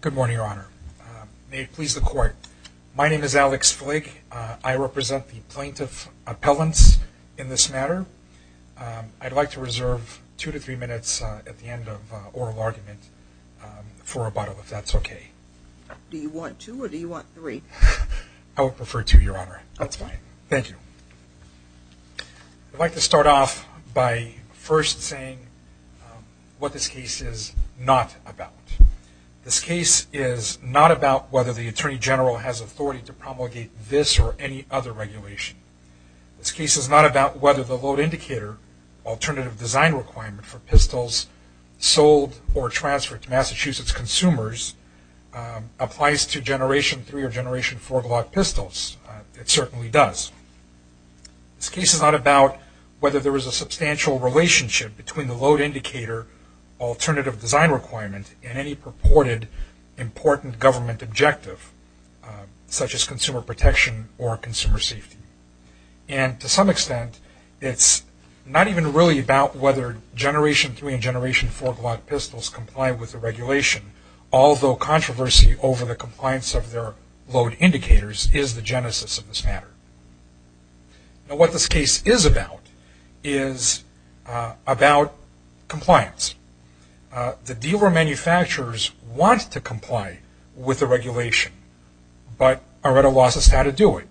Good morning, your honor. May it please the court. My name is Alex Flake. I represent the plaintiff appellants in this matter. I'd like to reserve two to three minutes at the end of oral argument for rebuttal if that's okay. Do you want two or do you want three? I would prefer two, your honor. That's fine. Thank you. I'd like to start off by first saying what this case is not about. This case is not about whether the attorney general has authority to promulgate this or any other regulation. This case is not about whether the load indicator alternative design requirement for pistols sold or transferred to Massachusetts consumers applies to generation three or generation four Glock pistols. It certainly does. This case is not about whether there is a substantial relationship between the load indicator alternative design requirement and any purported important government objective such as consumer protection or consumer safety. And to some extent, it's not even really about whether generation three and generation four Glock pistols comply with the regulation, although controversy over the compliance of their load indicators is the genesis of this matter. Now what this is, the dealer manufacturers want to comply with the regulation, but Areta Laws has had to do it.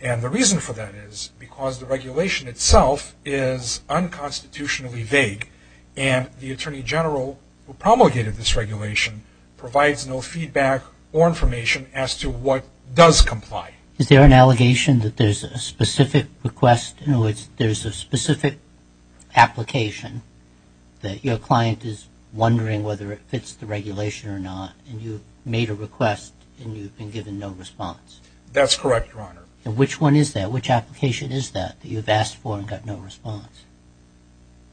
And the reason for that is because the regulation itself is unconstitutionally vague and the attorney general who promulgated this regulation provides no feedback or information as to what does comply. Is there an allegation that there's a specific request? In other words, there's a specific application that your client is wondering whether it fits the regulation or not, and you made a request and you've been given no response. That's correct, Your Honor. Which one is that? Which application is that you've asked for and got no response?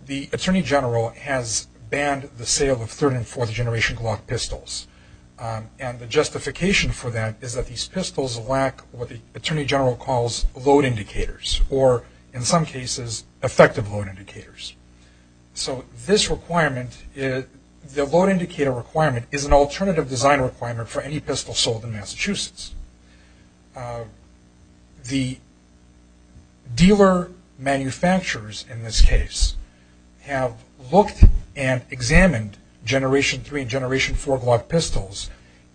The attorney general has banned the sale of third and fourth generation Glock pistols. And the justification for that is that these pistols lack what the or, in some cases, effective load indicators. So this requirement, the load indicator requirement, is an alternative design requirement for any pistol sold in Massachusetts. The dealer manufacturers in this case have looked and examined generation three and generation four Glock pistols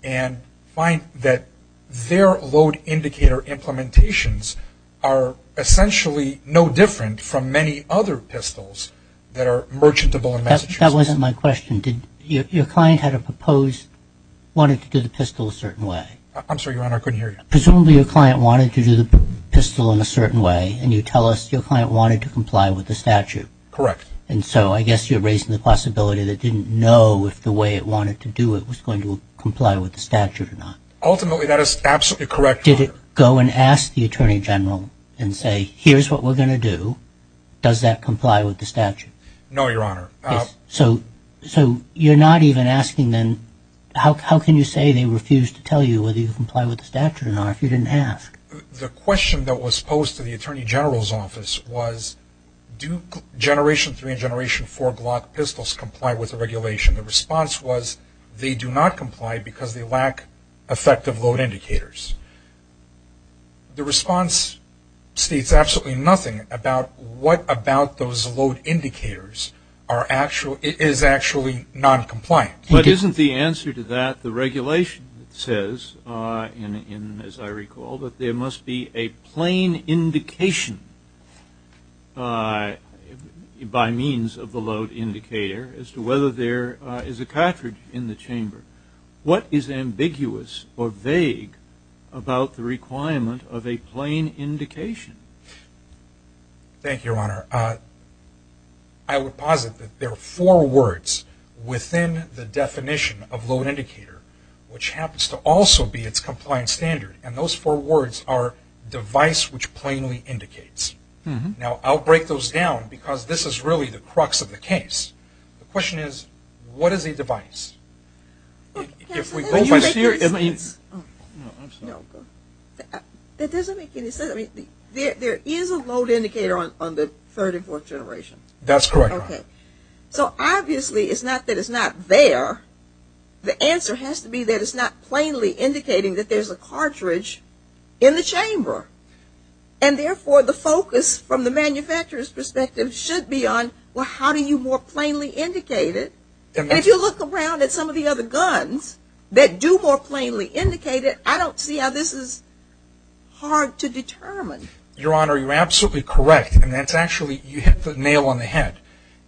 and find that their load indicator implementations are essentially no different from many other pistols that are merchantable in Massachusetts. That wasn't my question. Did your client had a proposed, wanted to do the pistol a certain way? I'm sorry, Your Honor, I couldn't hear you. Presumably your client wanted to do the pistol in a certain way and you tell us your client wanted to comply with the statute. Correct. And so I guess you're raising the possibility that they didn't know if the way it wanted to do it was going to comply with the statute or not. Ultimately, that is absolutely correct, Your Honor. Did it go and ask the attorney general and say, here's what we're going to do, does that comply with the statute? No, Your Honor. So you're not even asking then, how can you say they refused to tell you whether you comply with the statute or not if you didn't ask? The question that was posed to the attorney general's office was, do generation three and generation four Glock pistols comply with the regulation? The response was, they do not comply because they lack effective load indicators. The response states absolutely nothing about what about those load indicators is actually non-compliant. But isn't the answer to that the regulation says, as I recall, that there must be a plain indication by means of the load indicator as to whether there is a cartridge in the chamber. What is ambiguous or vague about the requirement of a plain indication? Thank you, Your Honor. I would posit that there are four words within the definition of load indicator which happens to also be its compliance standard. And those four words are device which plainly indicates. Now, I'll break those down because this is really the crux of the case. The question is, what is a device? There is a load indicator on the third and fourth generation. That's correct. So obviously it's not that it's not there. The answer has to be that it's not plainly indicated. And if you look around at some of the other guns that do more plainly indicate it, I don't see how this is hard to determine. Your Honor, you're absolutely correct. And that's actually, you hit the nail on the head.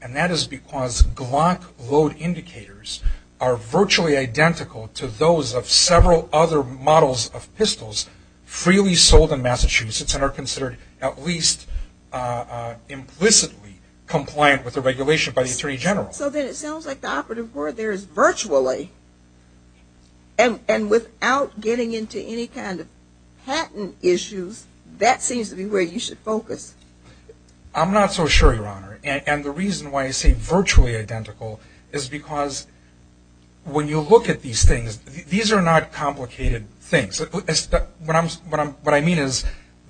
And that is because Glock load indicators are virtually identical to those of several other models of pistols freely sold in Massachusetts and are considered at least implicitly compliant with the regulation by the Attorney General. So then it sounds like the operative word there is virtually. And without getting into any kind of patent issues, that seems to be where you should focus. I'm not so sure, Your Honor. And the reason why I say virtually identical is because when you look at these things, these are not complicated things. What I mean is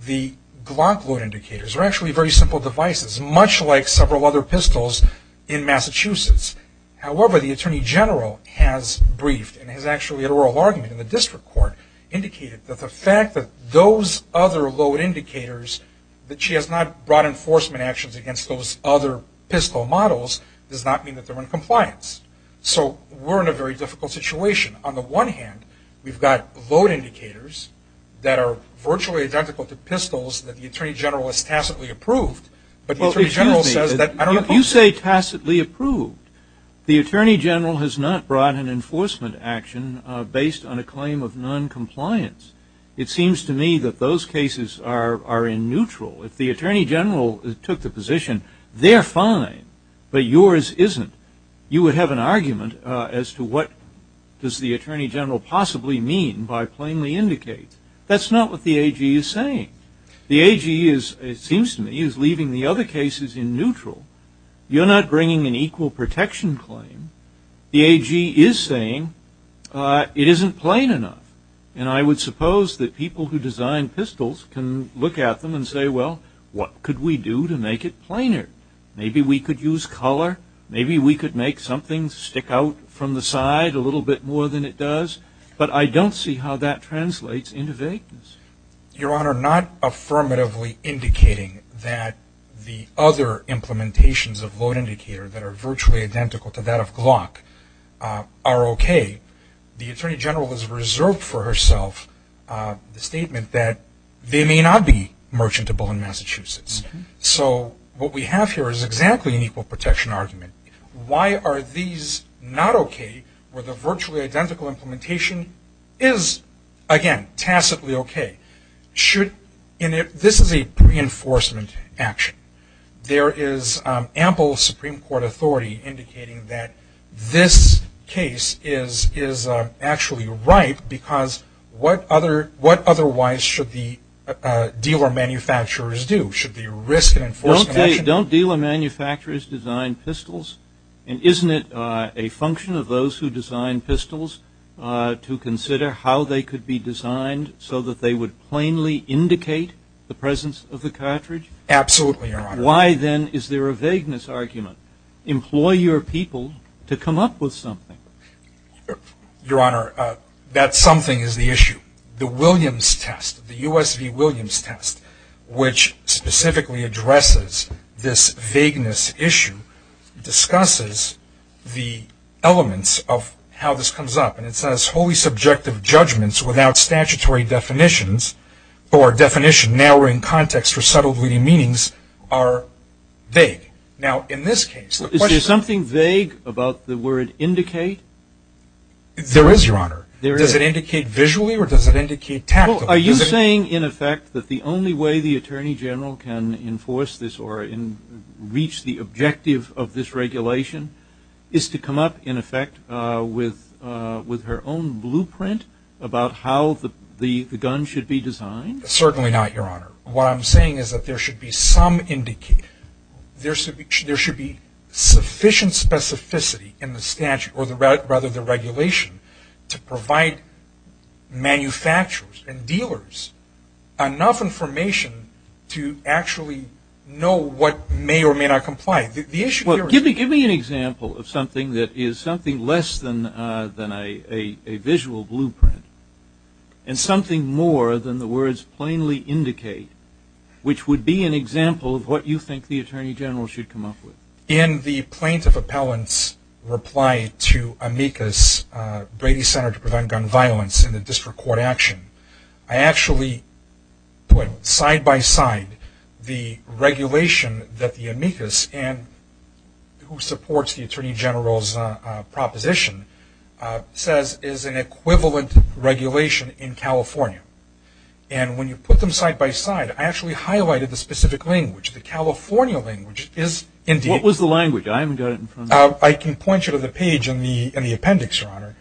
the Glock load indicators are actually very simple devices, much like several other pistols in Massachusetts. However, the Attorney General has briefed and has actually had an oral argument in the district court indicated that the fact that those other load indicators, that she has not brought enforcement actions against those other pistol models, does not mean that they're in compliance. So we're in a very difficult situation. On the one hand, we've got load indicators that are virtually identical to pistols that the Attorney General has tacitly approved. But the Attorney General says that, I don't know if you say tacitly approved. The Attorney General has not brought an enforcement action based on a claim of noncompliance. It seems to me that those cases are in neutral. If the Attorney General took the position, they're fine, but yours isn't, you would have an argument as to what does the Attorney General possibly mean by plainly indicate. That's not what the AG is saying. The AG is, it seems to me, is leaving the other cases in neutral. You're not bringing an equal protection claim. The AG is saying it isn't plain enough. And I would suppose that people who design pistols can look at them and say, well, what could we do to make it plainer? Maybe we could use color. Maybe we could make something stick out from the side a little bit more than it does. But I don't see how that translates into vagueness. Your Honor, not affirmatively indicating that the other implementations of load indicator that are virtually identical to that of Glock are okay. The Attorney General has reserved for herself the statement that they may not be merchantable in Massachusetts. So what we have here is exactly an equal protection argument. Why are these not okay where the should, and this is a reinforcement action. There is ample Supreme Court authority indicating that this case is actually right because what otherwise should the dealer manufacturers do? Should they risk an enforcement action? Don't dealer manufacturers design pistols? And isn't it a function of those who design pistols to consider how they could be designed so that they would plainly indicate the presence of the cartridge? Absolutely, Your Honor. Why then is there a vagueness argument? Employ your people to come up with something. Your Honor, that something is the issue. The Williams test, the U.S. v. Williams test, which specifically addresses this vagueness issue, discusses the elements of how the Supreme Court's definition of vagueness comes up. And it says, holy subjective judgments without statutory definitions or definition narrowing context for subtle meanings are vague. Now in this case, the question Is there something vague about the word indicate? There is, Your Honor. Does it indicate visually or does it indicate tactically? Well, are you saying in effect that the only way the Attorney General can enforce this or reach the objective of this regulation is to come up in effect with her own blueprint about how the gun should be designed? Certainly not, Your Honor. What I'm saying is that there should be some indicate. There should be sufficient specificity in the statute or rather the regulation to provide manufacturers and dealers enough information to actually know what may or may not comply. The issue here is Well, give me an example of something that is something less than a visual blueprint and something more than the words plainly indicate, which would be an example of what you think the Attorney General should come up with. In the plaintiff appellant's reply to Amicus Brady Center to Prevent Gun Violence in the United States, I actually put side by side the regulation that the Amicus and who supports the Attorney General's proposition says is an equivalent regulation in California. And when you put them side by side, I actually highlighted the specific language. The California language is indeed What was the language? I haven't got it in front of me. I can point you to the page in the appendix, Your Honor.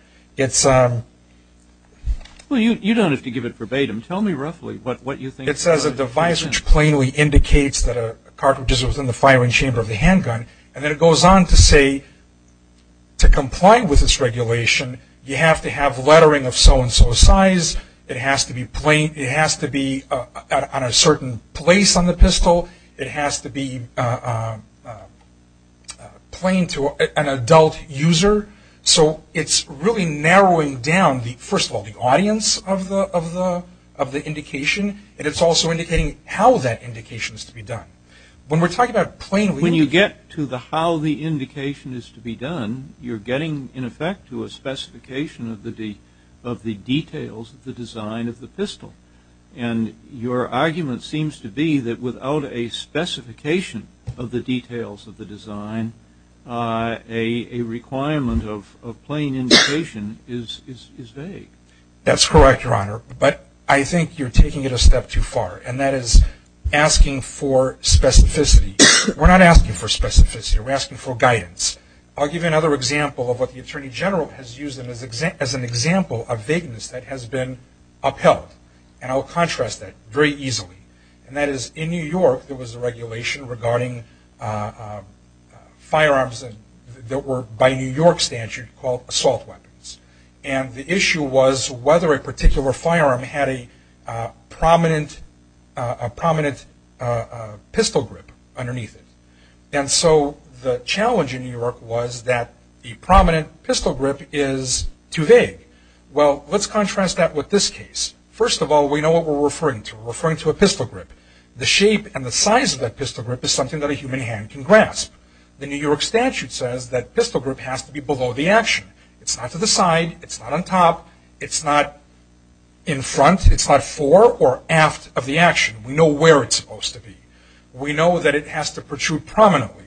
Well, you don't have to give it verbatim. Tell me roughly what you think It says a device which plainly indicates that a cartridge is within the firing chamber of the handgun. And then it goes on to say to comply with this regulation, you have to have lettering of so and so size. It has to be on a certain place on the pistol. It has to be plain to an adult user. So it's really narrowing down, first of all, the audience of the indication. And it's also indicating how that indication is to be done. When we're talking about plainly When you get to the how the indication is to be done, you're getting, in effect, to a specification of the details of the design of the pistol. And your argument seems to be that without a specification of the details of the design, a requirement of plain indication is vague. That's correct, Your Honor. But I think you're taking it a step too far. And that is asking for specificity. We're not asking for specificity. We're asking for guidance. I'll give you another example of what the Attorney General has used as an example of vagueness that has been upheld. And I'll contrast that very easily. And that is, in New York, there was a regulation regarding firearms that were, by New York statute, called assault weapons. And the issue was whether a particular firearm had a prominent pistol grip underneath it. And so the challenge in New York was that the prominent pistol grip is too vague. Well, let's contrast that with this case. First of all, we know what we're referring to. We're referring to a pistol grip. The shape and the size of that pistol grip is something that a human hand can grasp. The New York statute says that pistol grip has to be below the action. It's not to the side. It's not on top. It's not in front. It's not fore or aft of the action. We know where it's supposed to be. We know that it has to protrude prominently.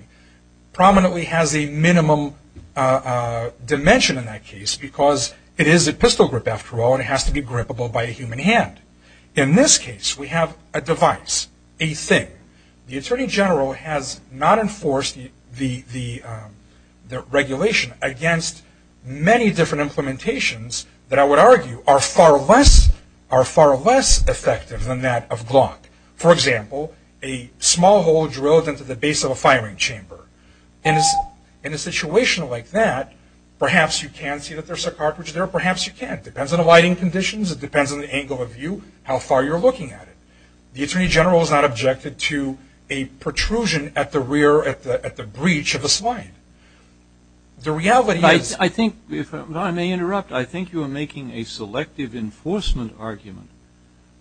Prominently has a minimum dimension in that case because it is a pistol grip, after all, and it has to be grippable by a human hand. In this case, we have a device, a thing. The Attorney General has not enforced the regulation against many different implementations that I would argue are far less effective than that of Glock. For example, a small hole drilled into the base of a firing chamber. In a situation like that, perhaps you can see that there's a cartridge there. Perhaps you can't. It depends on the lighting conditions. It depends on the angle of view, how far you're looking at it. The Attorney General has not objected to a protrusion at the rear, at the breech of the slide. The reality is- I think, if I may interrupt, I think you are making a selective enforcement argument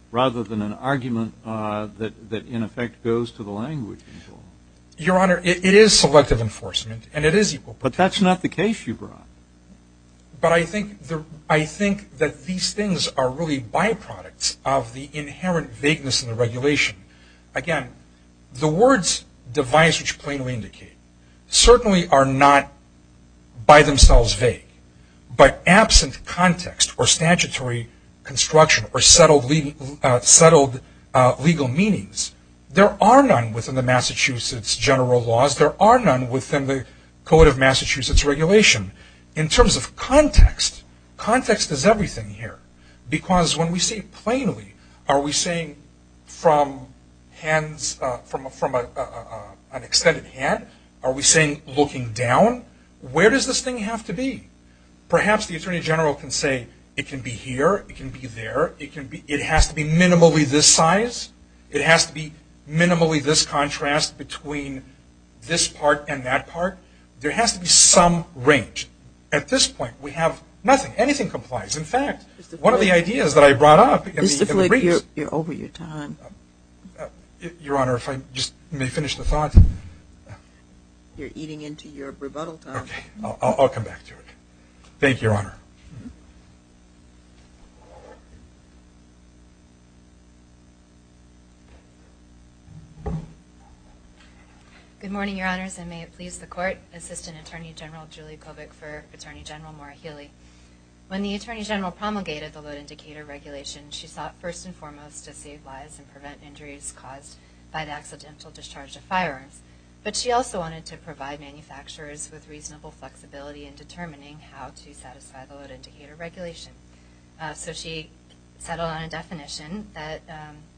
rather than an argument that, in effect, goes to the language control. Your Honor, it is selective enforcement, and it is equal- But that's not the case you brought. But I think that these things are really byproducts of the inherent vagueness in the regulation. Again, the words device, which plainly indicate, certainly are not by themselves vague, but settled legal meanings. There are none within the Massachusetts General Laws. There are none within the Code of Massachusetts Regulation. In terms of context, context is everything here, because when we say plainly, are we saying from an extended hand? Are we saying looking down? Where does this thing have to be? Perhaps the Attorney General can say it can be here, it can be there, it has to be minimally this size, it has to be minimally this contrast between this part and that part. There has to be some range. At this point, we have nothing. Anything complies. In fact, one of the ideas that I brought up- Mr. Flick, you're over your time. Your Honor, if I may just finish the thought. You're eating into your rebuttal time. Okay, I'll come back to it. Thank you, Your Honor. Good morning, Your Honors, and may it please the Court, Assistant Attorney General Julie Kobik for Attorney General Maura Healey. When the Attorney General promulgated the Load Indicator Regulation, she sought first and foremost to save lives and prevent injuries caused by the accidental discharge of firearms, but she also wanted to provide manufacturers with reasonable flexibility in determining how to satisfy the Load Indicator Regulation. So she settled on a definition that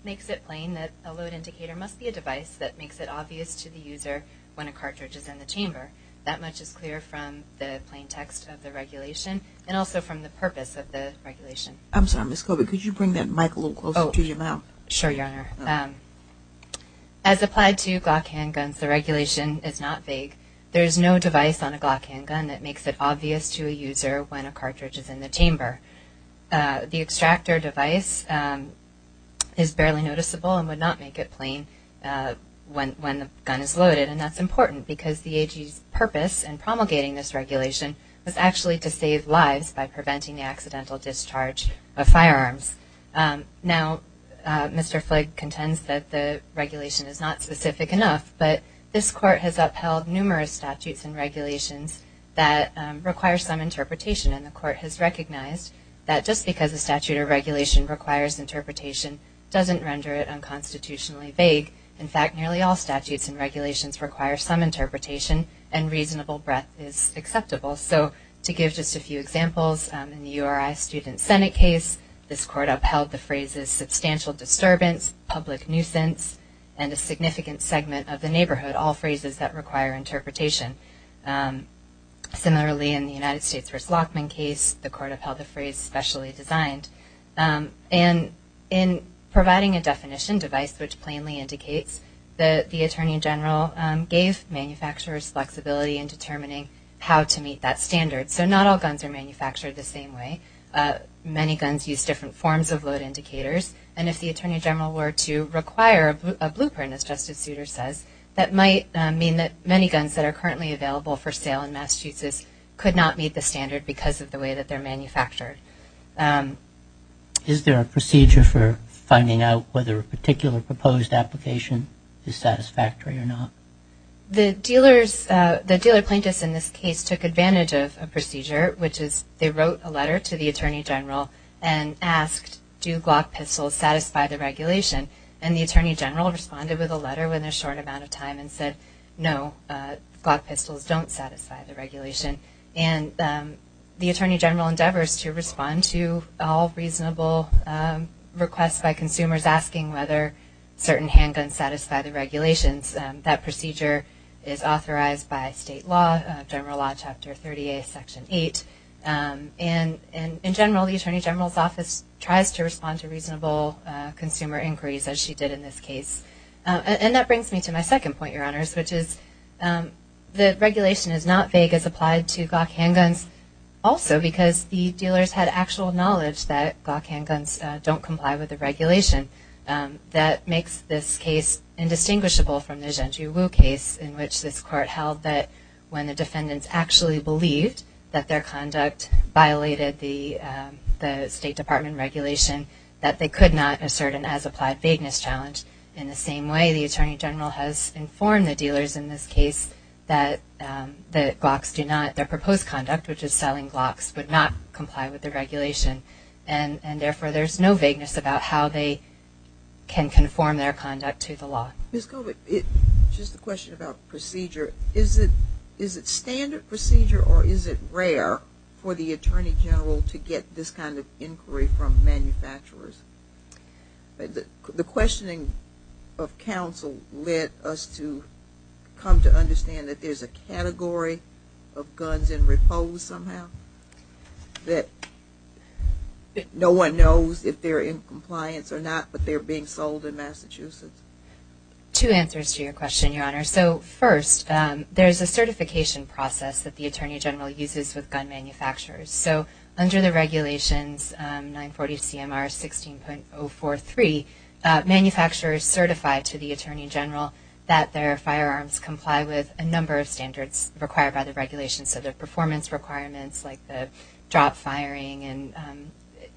makes it plain that a load indicator must be a device that makes it obvious to the user when a cartridge is in the chamber. That much is clear from the plain text of the regulation and also from the purpose of the regulation. I'm sorry, Ms. Kobik, could you bring that mic a little closer to your mouth? Sure, Your Honor. As applied to Glock handguns, the regulation is not vague. There is no device on a Glock handgun that makes it obvious to a user when a cartridge is in the chamber. The extractor device is barely noticeable and would not make it plain when the gun is loaded, and that's important because the AG's purpose in promulgating this regulation was actually to save lives by preventing the accidental discharge of firearms. Now Mr. Flake contends that the regulation is not specific enough, but this Court has upheld numerous statutes and regulations that require some interpretation, and the Court has recognized that just because a statute or regulation requires interpretation doesn't render it unconstitutionally vague. In fact, nearly all statutes and regulations require some interpretation, and reasonable breadth is acceptable. So to give just a few examples, in the URI Student Senate case, this Court upheld the phrases substantial disturbance, public nuisance, and a significant segment of the neighborhood, all phrases that require interpretation. Similarly, in the United States v. Lockman case, the Court upheld the phrase specially designed. And in providing a definition device which plainly indicates that the Attorney General gave manufacturers flexibility in determining how to meet that standard. So not all guns are manufactured the same way. Many guns use different forms of load indicators, and if the Attorney General were to require a blueprint, as Justice Souter says, that might mean that many guns that are currently available for sale in Massachusetts could not meet the standard because of the way that they're manufactured. Is there a procedure for finding out whether a particular proposed application is satisfactory or not? The dealer plaintiffs in this case took advantage of a procedure, which is they wrote a letter to the Attorney General and asked, do Glock pistols satisfy the regulation? And the Attorney General responded with a letter within a short amount of time and said, no, Glock pistols don't satisfy the regulation. And the Attorney General endeavors to respond to all reasonable requests by consumers asking whether certain handguns satisfy the regulations. That procedure is authorized by state law, General Law Chapter 30A, Section 8. And in general, the Attorney General's office tries to respond to reasonable consumer inquiries, as she did in this case. And that brings me to my second point, Your Honors, which is the regulation is not vague as applied to Glock handguns, also because the dealers had actual knowledge that Glock handguns don't comply with the regulation. That makes this case indistinguishable from the Zhenju Wu case, in which this Court held that when the defendants actually believed that their conduct violated the State Department regulation, that they could not assert an as-applied vagueness challenge. In the same way, the Attorney General has informed the dealers in this case that their proposed conduct, which is selling Glocks, would not comply with the regulation. And therefore, there is no vagueness about how they can conform their conduct to the law. Ms. Colbert, just a question about procedure. Is it standard procedure or is it rare for the Attorney General to get this kind of inquiry from manufacturers? The questioning of counsel led us to come to understand that there's a category of guns in repose somehow, that no one knows if they're in compliance or not, but they're being sold in Massachusetts. Two answers to your question, Your Honor. So first, there's a certification process that the Attorney General uses with gun manufacturers. So under the regulations 940CMR 16.043, manufacturers certify to the Attorney General that their firearms comply with a number of standards required by the regulations, so the performance requirements like the drop firing and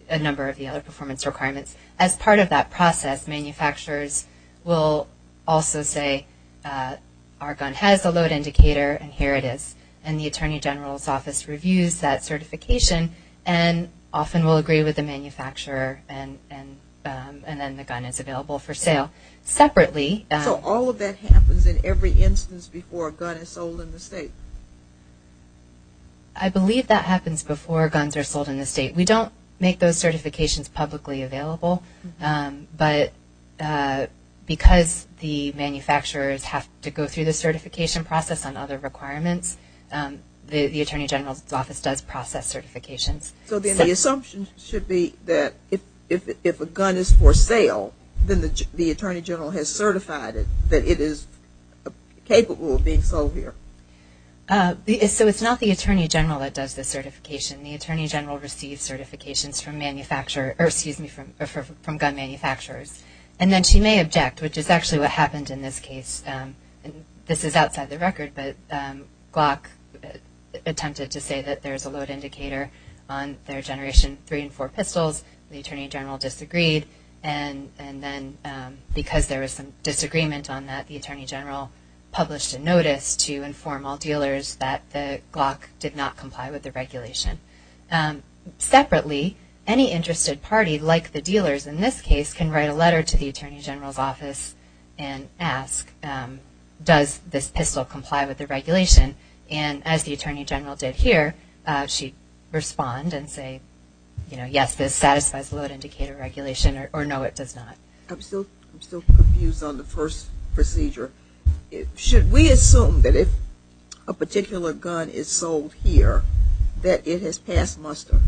a number of the other performance requirements. As part of that process, manufacturers will also say our gun has a load indicator and here it is. And the Attorney General's office reviews that certification and often will agree with the manufacturer and then the gun is available for sale. So all of that happens in every instance before a gun is sold in the state? I believe that happens before guns are sold in the state. We don't make those certifications publicly available, but because the manufacturers have to go through the certification process on other requirements, the Attorney General's office does process certifications. So then the assumption should be that if a gun is for sale, then the Attorney General has certified it that it is capable of being sold here? So it's not the Attorney General that does the certification. The Attorney General receives certifications from gun manufacturers. And then she may object, which is actually what happened in this case. This is outside the record, but Glock attempted to say that there is a load indicator on their Generation 3 and 4 pistols. The Attorney General disagreed and then because there was some disagreement on that, the Attorney General published a letter to all dealers that the Glock did not comply with the regulation. Separately, any interested party, like the dealers in this case, can write a letter to the Attorney General's office and ask, does this pistol comply with the regulation? And as the Attorney General did here, she'd respond and say, yes, this satisfies the load indicator regulation or no, it does not. I'm still confused on the first procedure. Should we assume that if a particular gun is sold here, that it has passed muster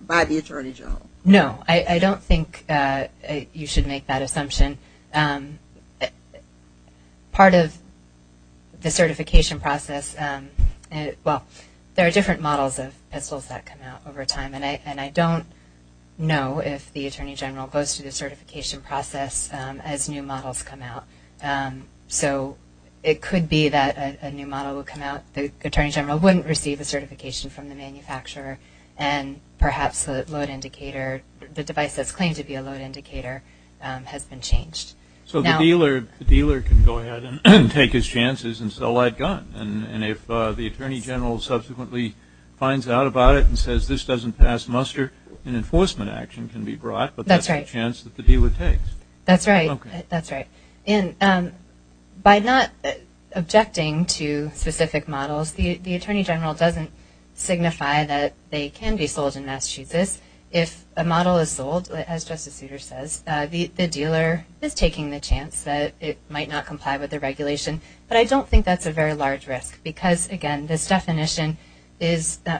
by the Attorney General? No, I don't think you should make that assumption. Part of the certification process, well, there are different models of pistols that come out over time. And I don't know if the Attorney General would receive a certification process as new models come out. So it could be that a new model will come out. The Attorney General wouldn't receive a certification from the manufacturer and perhaps the load indicator, the device that's claimed to be a load indicator, has been changed. So the dealer can go ahead and take his chances and sell that gun. And if the Attorney General subsequently finds out about it and says this doesn't pass muster, an enforcement action can be brought. That's right. But that's the chance that the DEA would take. That's right. That's right. And by not objecting to specific models, the Attorney General doesn't signify that they can be sold in Massachusetts. If a model is sold, as Justice Souter says, the dealer is taking the chance that it might not comply with the regulation. But I don't think that's a very large risk because, again, this definition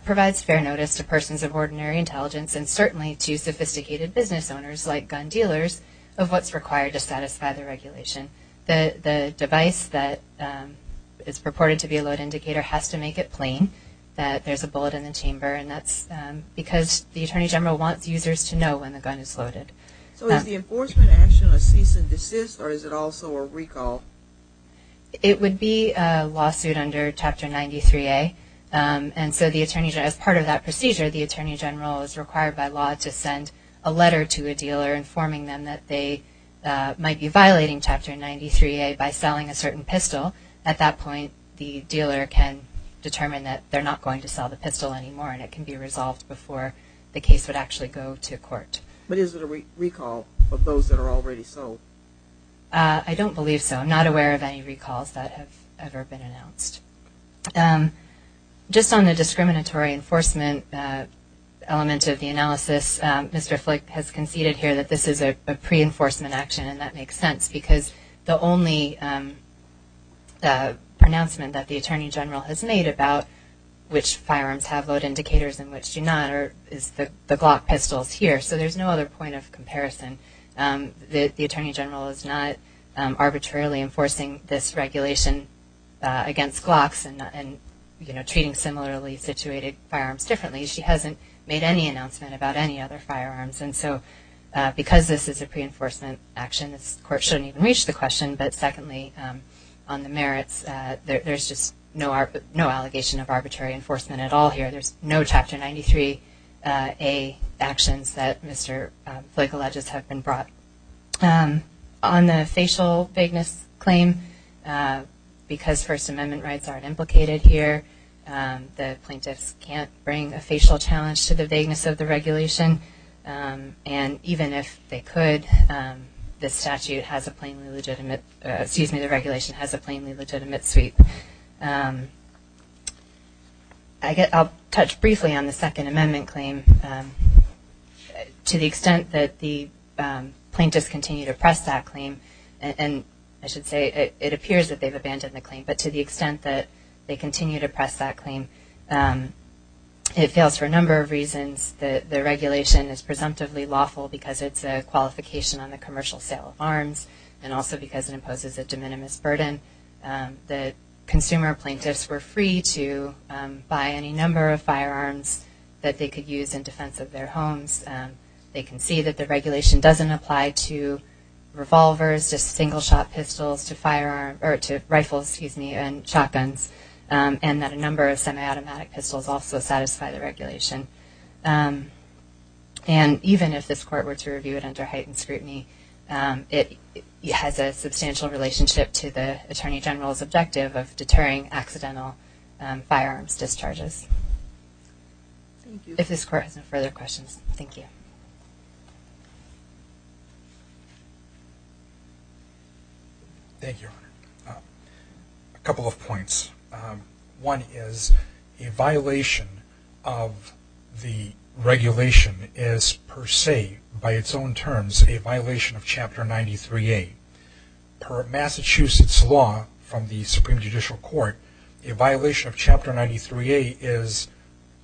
provides fair notice to persons of ordinary intelligence and certainly to sophisticated business owners like gun dealers of what's required to satisfy the regulation. The device that is purported to be a load indicator has to make it plain that there's a bullet in the chamber and that's because the Attorney General wants users to know when the gun is loaded. So is the enforcement action a cease and desist or is it also a recall? It would be a lawsuit under Chapter 93A. And so the Attorney General, as part of that procedure, the Attorney General is required by law to send a letter to a dealer informing them that they might be violating Chapter 93A by selling a certain pistol. At that point, the dealer can determine that they're not going to sell the pistol anymore and it can be resolved before the case would actually go to court. But is it a recall of those that are already sold? I don't believe so. I'm not aware of any recalls that have ever been announced. Just on the discriminatory enforcement element of the analysis, Mr. Flick has conceded here that this is a pre-enforcement action and that makes sense because the only pronouncement that the Attorney General has made about which firearms have load indicators and which do not is the Glock pistols here. So there's no other point of comparison. The Attorney General is arbitrarily enforcing this regulation against Glocks and, you know, treating similarly situated firearms differently. She hasn't made any announcement about any other firearms. And so because this is a pre-enforcement action, this court shouldn't even reach the question. But secondly, on the merits, there's just no allegation of arbitrary enforcement at all here. There's no Chapter 93A actions that Mr. Flick alleges have been brought. On the facial vagueness claim, because First Amendment rights aren't implicated here, the plaintiffs can't bring a facial challenge to the vagueness of the regulation. And even if they could, this statute has a plainly legitimate, excuse me, the regulation has a plainly legitimate sweep. I'll touch briefly on the Second Amendment claim. To the extent that the plaintiffs continue to press that claim, and I should say it appears that they've abandoned the claim, but to the extent that they continue to press that claim, it fails for a number of reasons. The regulation is presumptively lawful because it's a qualification on the commercial sale of arms and also because it imposes a de minimis burden. The consumer plaintiffs were free to buy any number of firearms that they could use in defense of their homes. They can see that the regulation doesn't apply to revolvers, to single-shot pistols, to rifles, excuse me, and shotguns, and that a number of semi-automatic pistols also satisfy the regulation. And even if this has a substantial relationship to the Attorney General's objective of deterring accidental firearms discharges. Thank you. If this Court has no further questions, thank you. Thank you, Your Honor. A couple of points. One is a violation of the regulation is per its own terms a violation of Chapter 93A. Per Massachusetts law from the Supreme Judicial Court, a violation of Chapter 93A is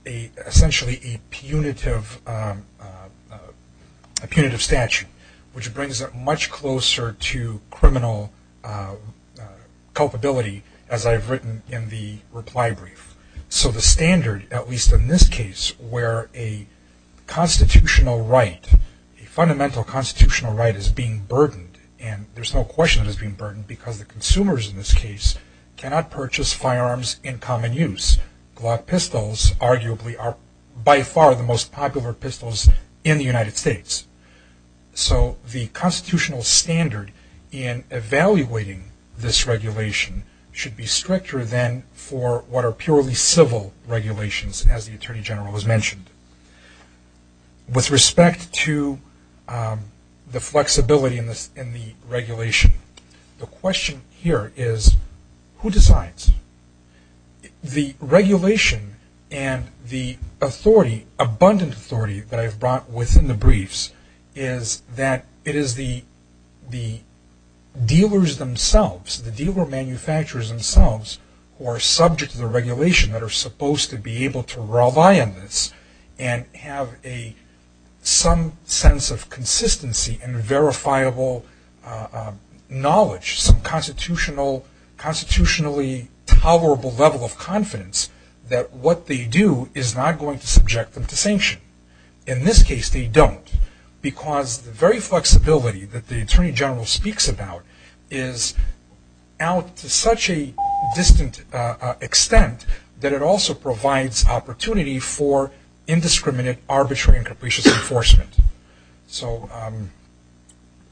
essentially a punitive statute, which brings it much closer to criminal culpability as I've written in the reply brief. So the standard, at least in this case, where a constitutional right, a fundamental constitutional right is being burdened, and there's no question it is being burdened because the consumers in this case cannot purchase firearms in common use. Glock pistols arguably are by far the most popular pistols in the United States. So the constitutional standard in evaluating this regulation should be stricter than for what are purely civil regulations, as the Attorney General has mentioned. With respect to the flexibility in the regulation, the question here is who decides? The regulation and the authority, abundant authority, that I've brought within the briefs is that it is the dealers themselves, the dealer manufacturers themselves, who are subject to the regulation that are supposed to be able to rely on this and have some sense of consistency and verifiable knowledge, some constitutionally tolerable level of confidence that what they do is not going to subject them to sanction. In this case, they don't, because the very flexibility that the Attorney General speaks about is out to such a distant extent that it also provides opportunity for indiscriminate, arbitrary, and capricious enforcement.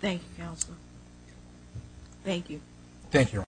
Thank you, Counselor. Thank you.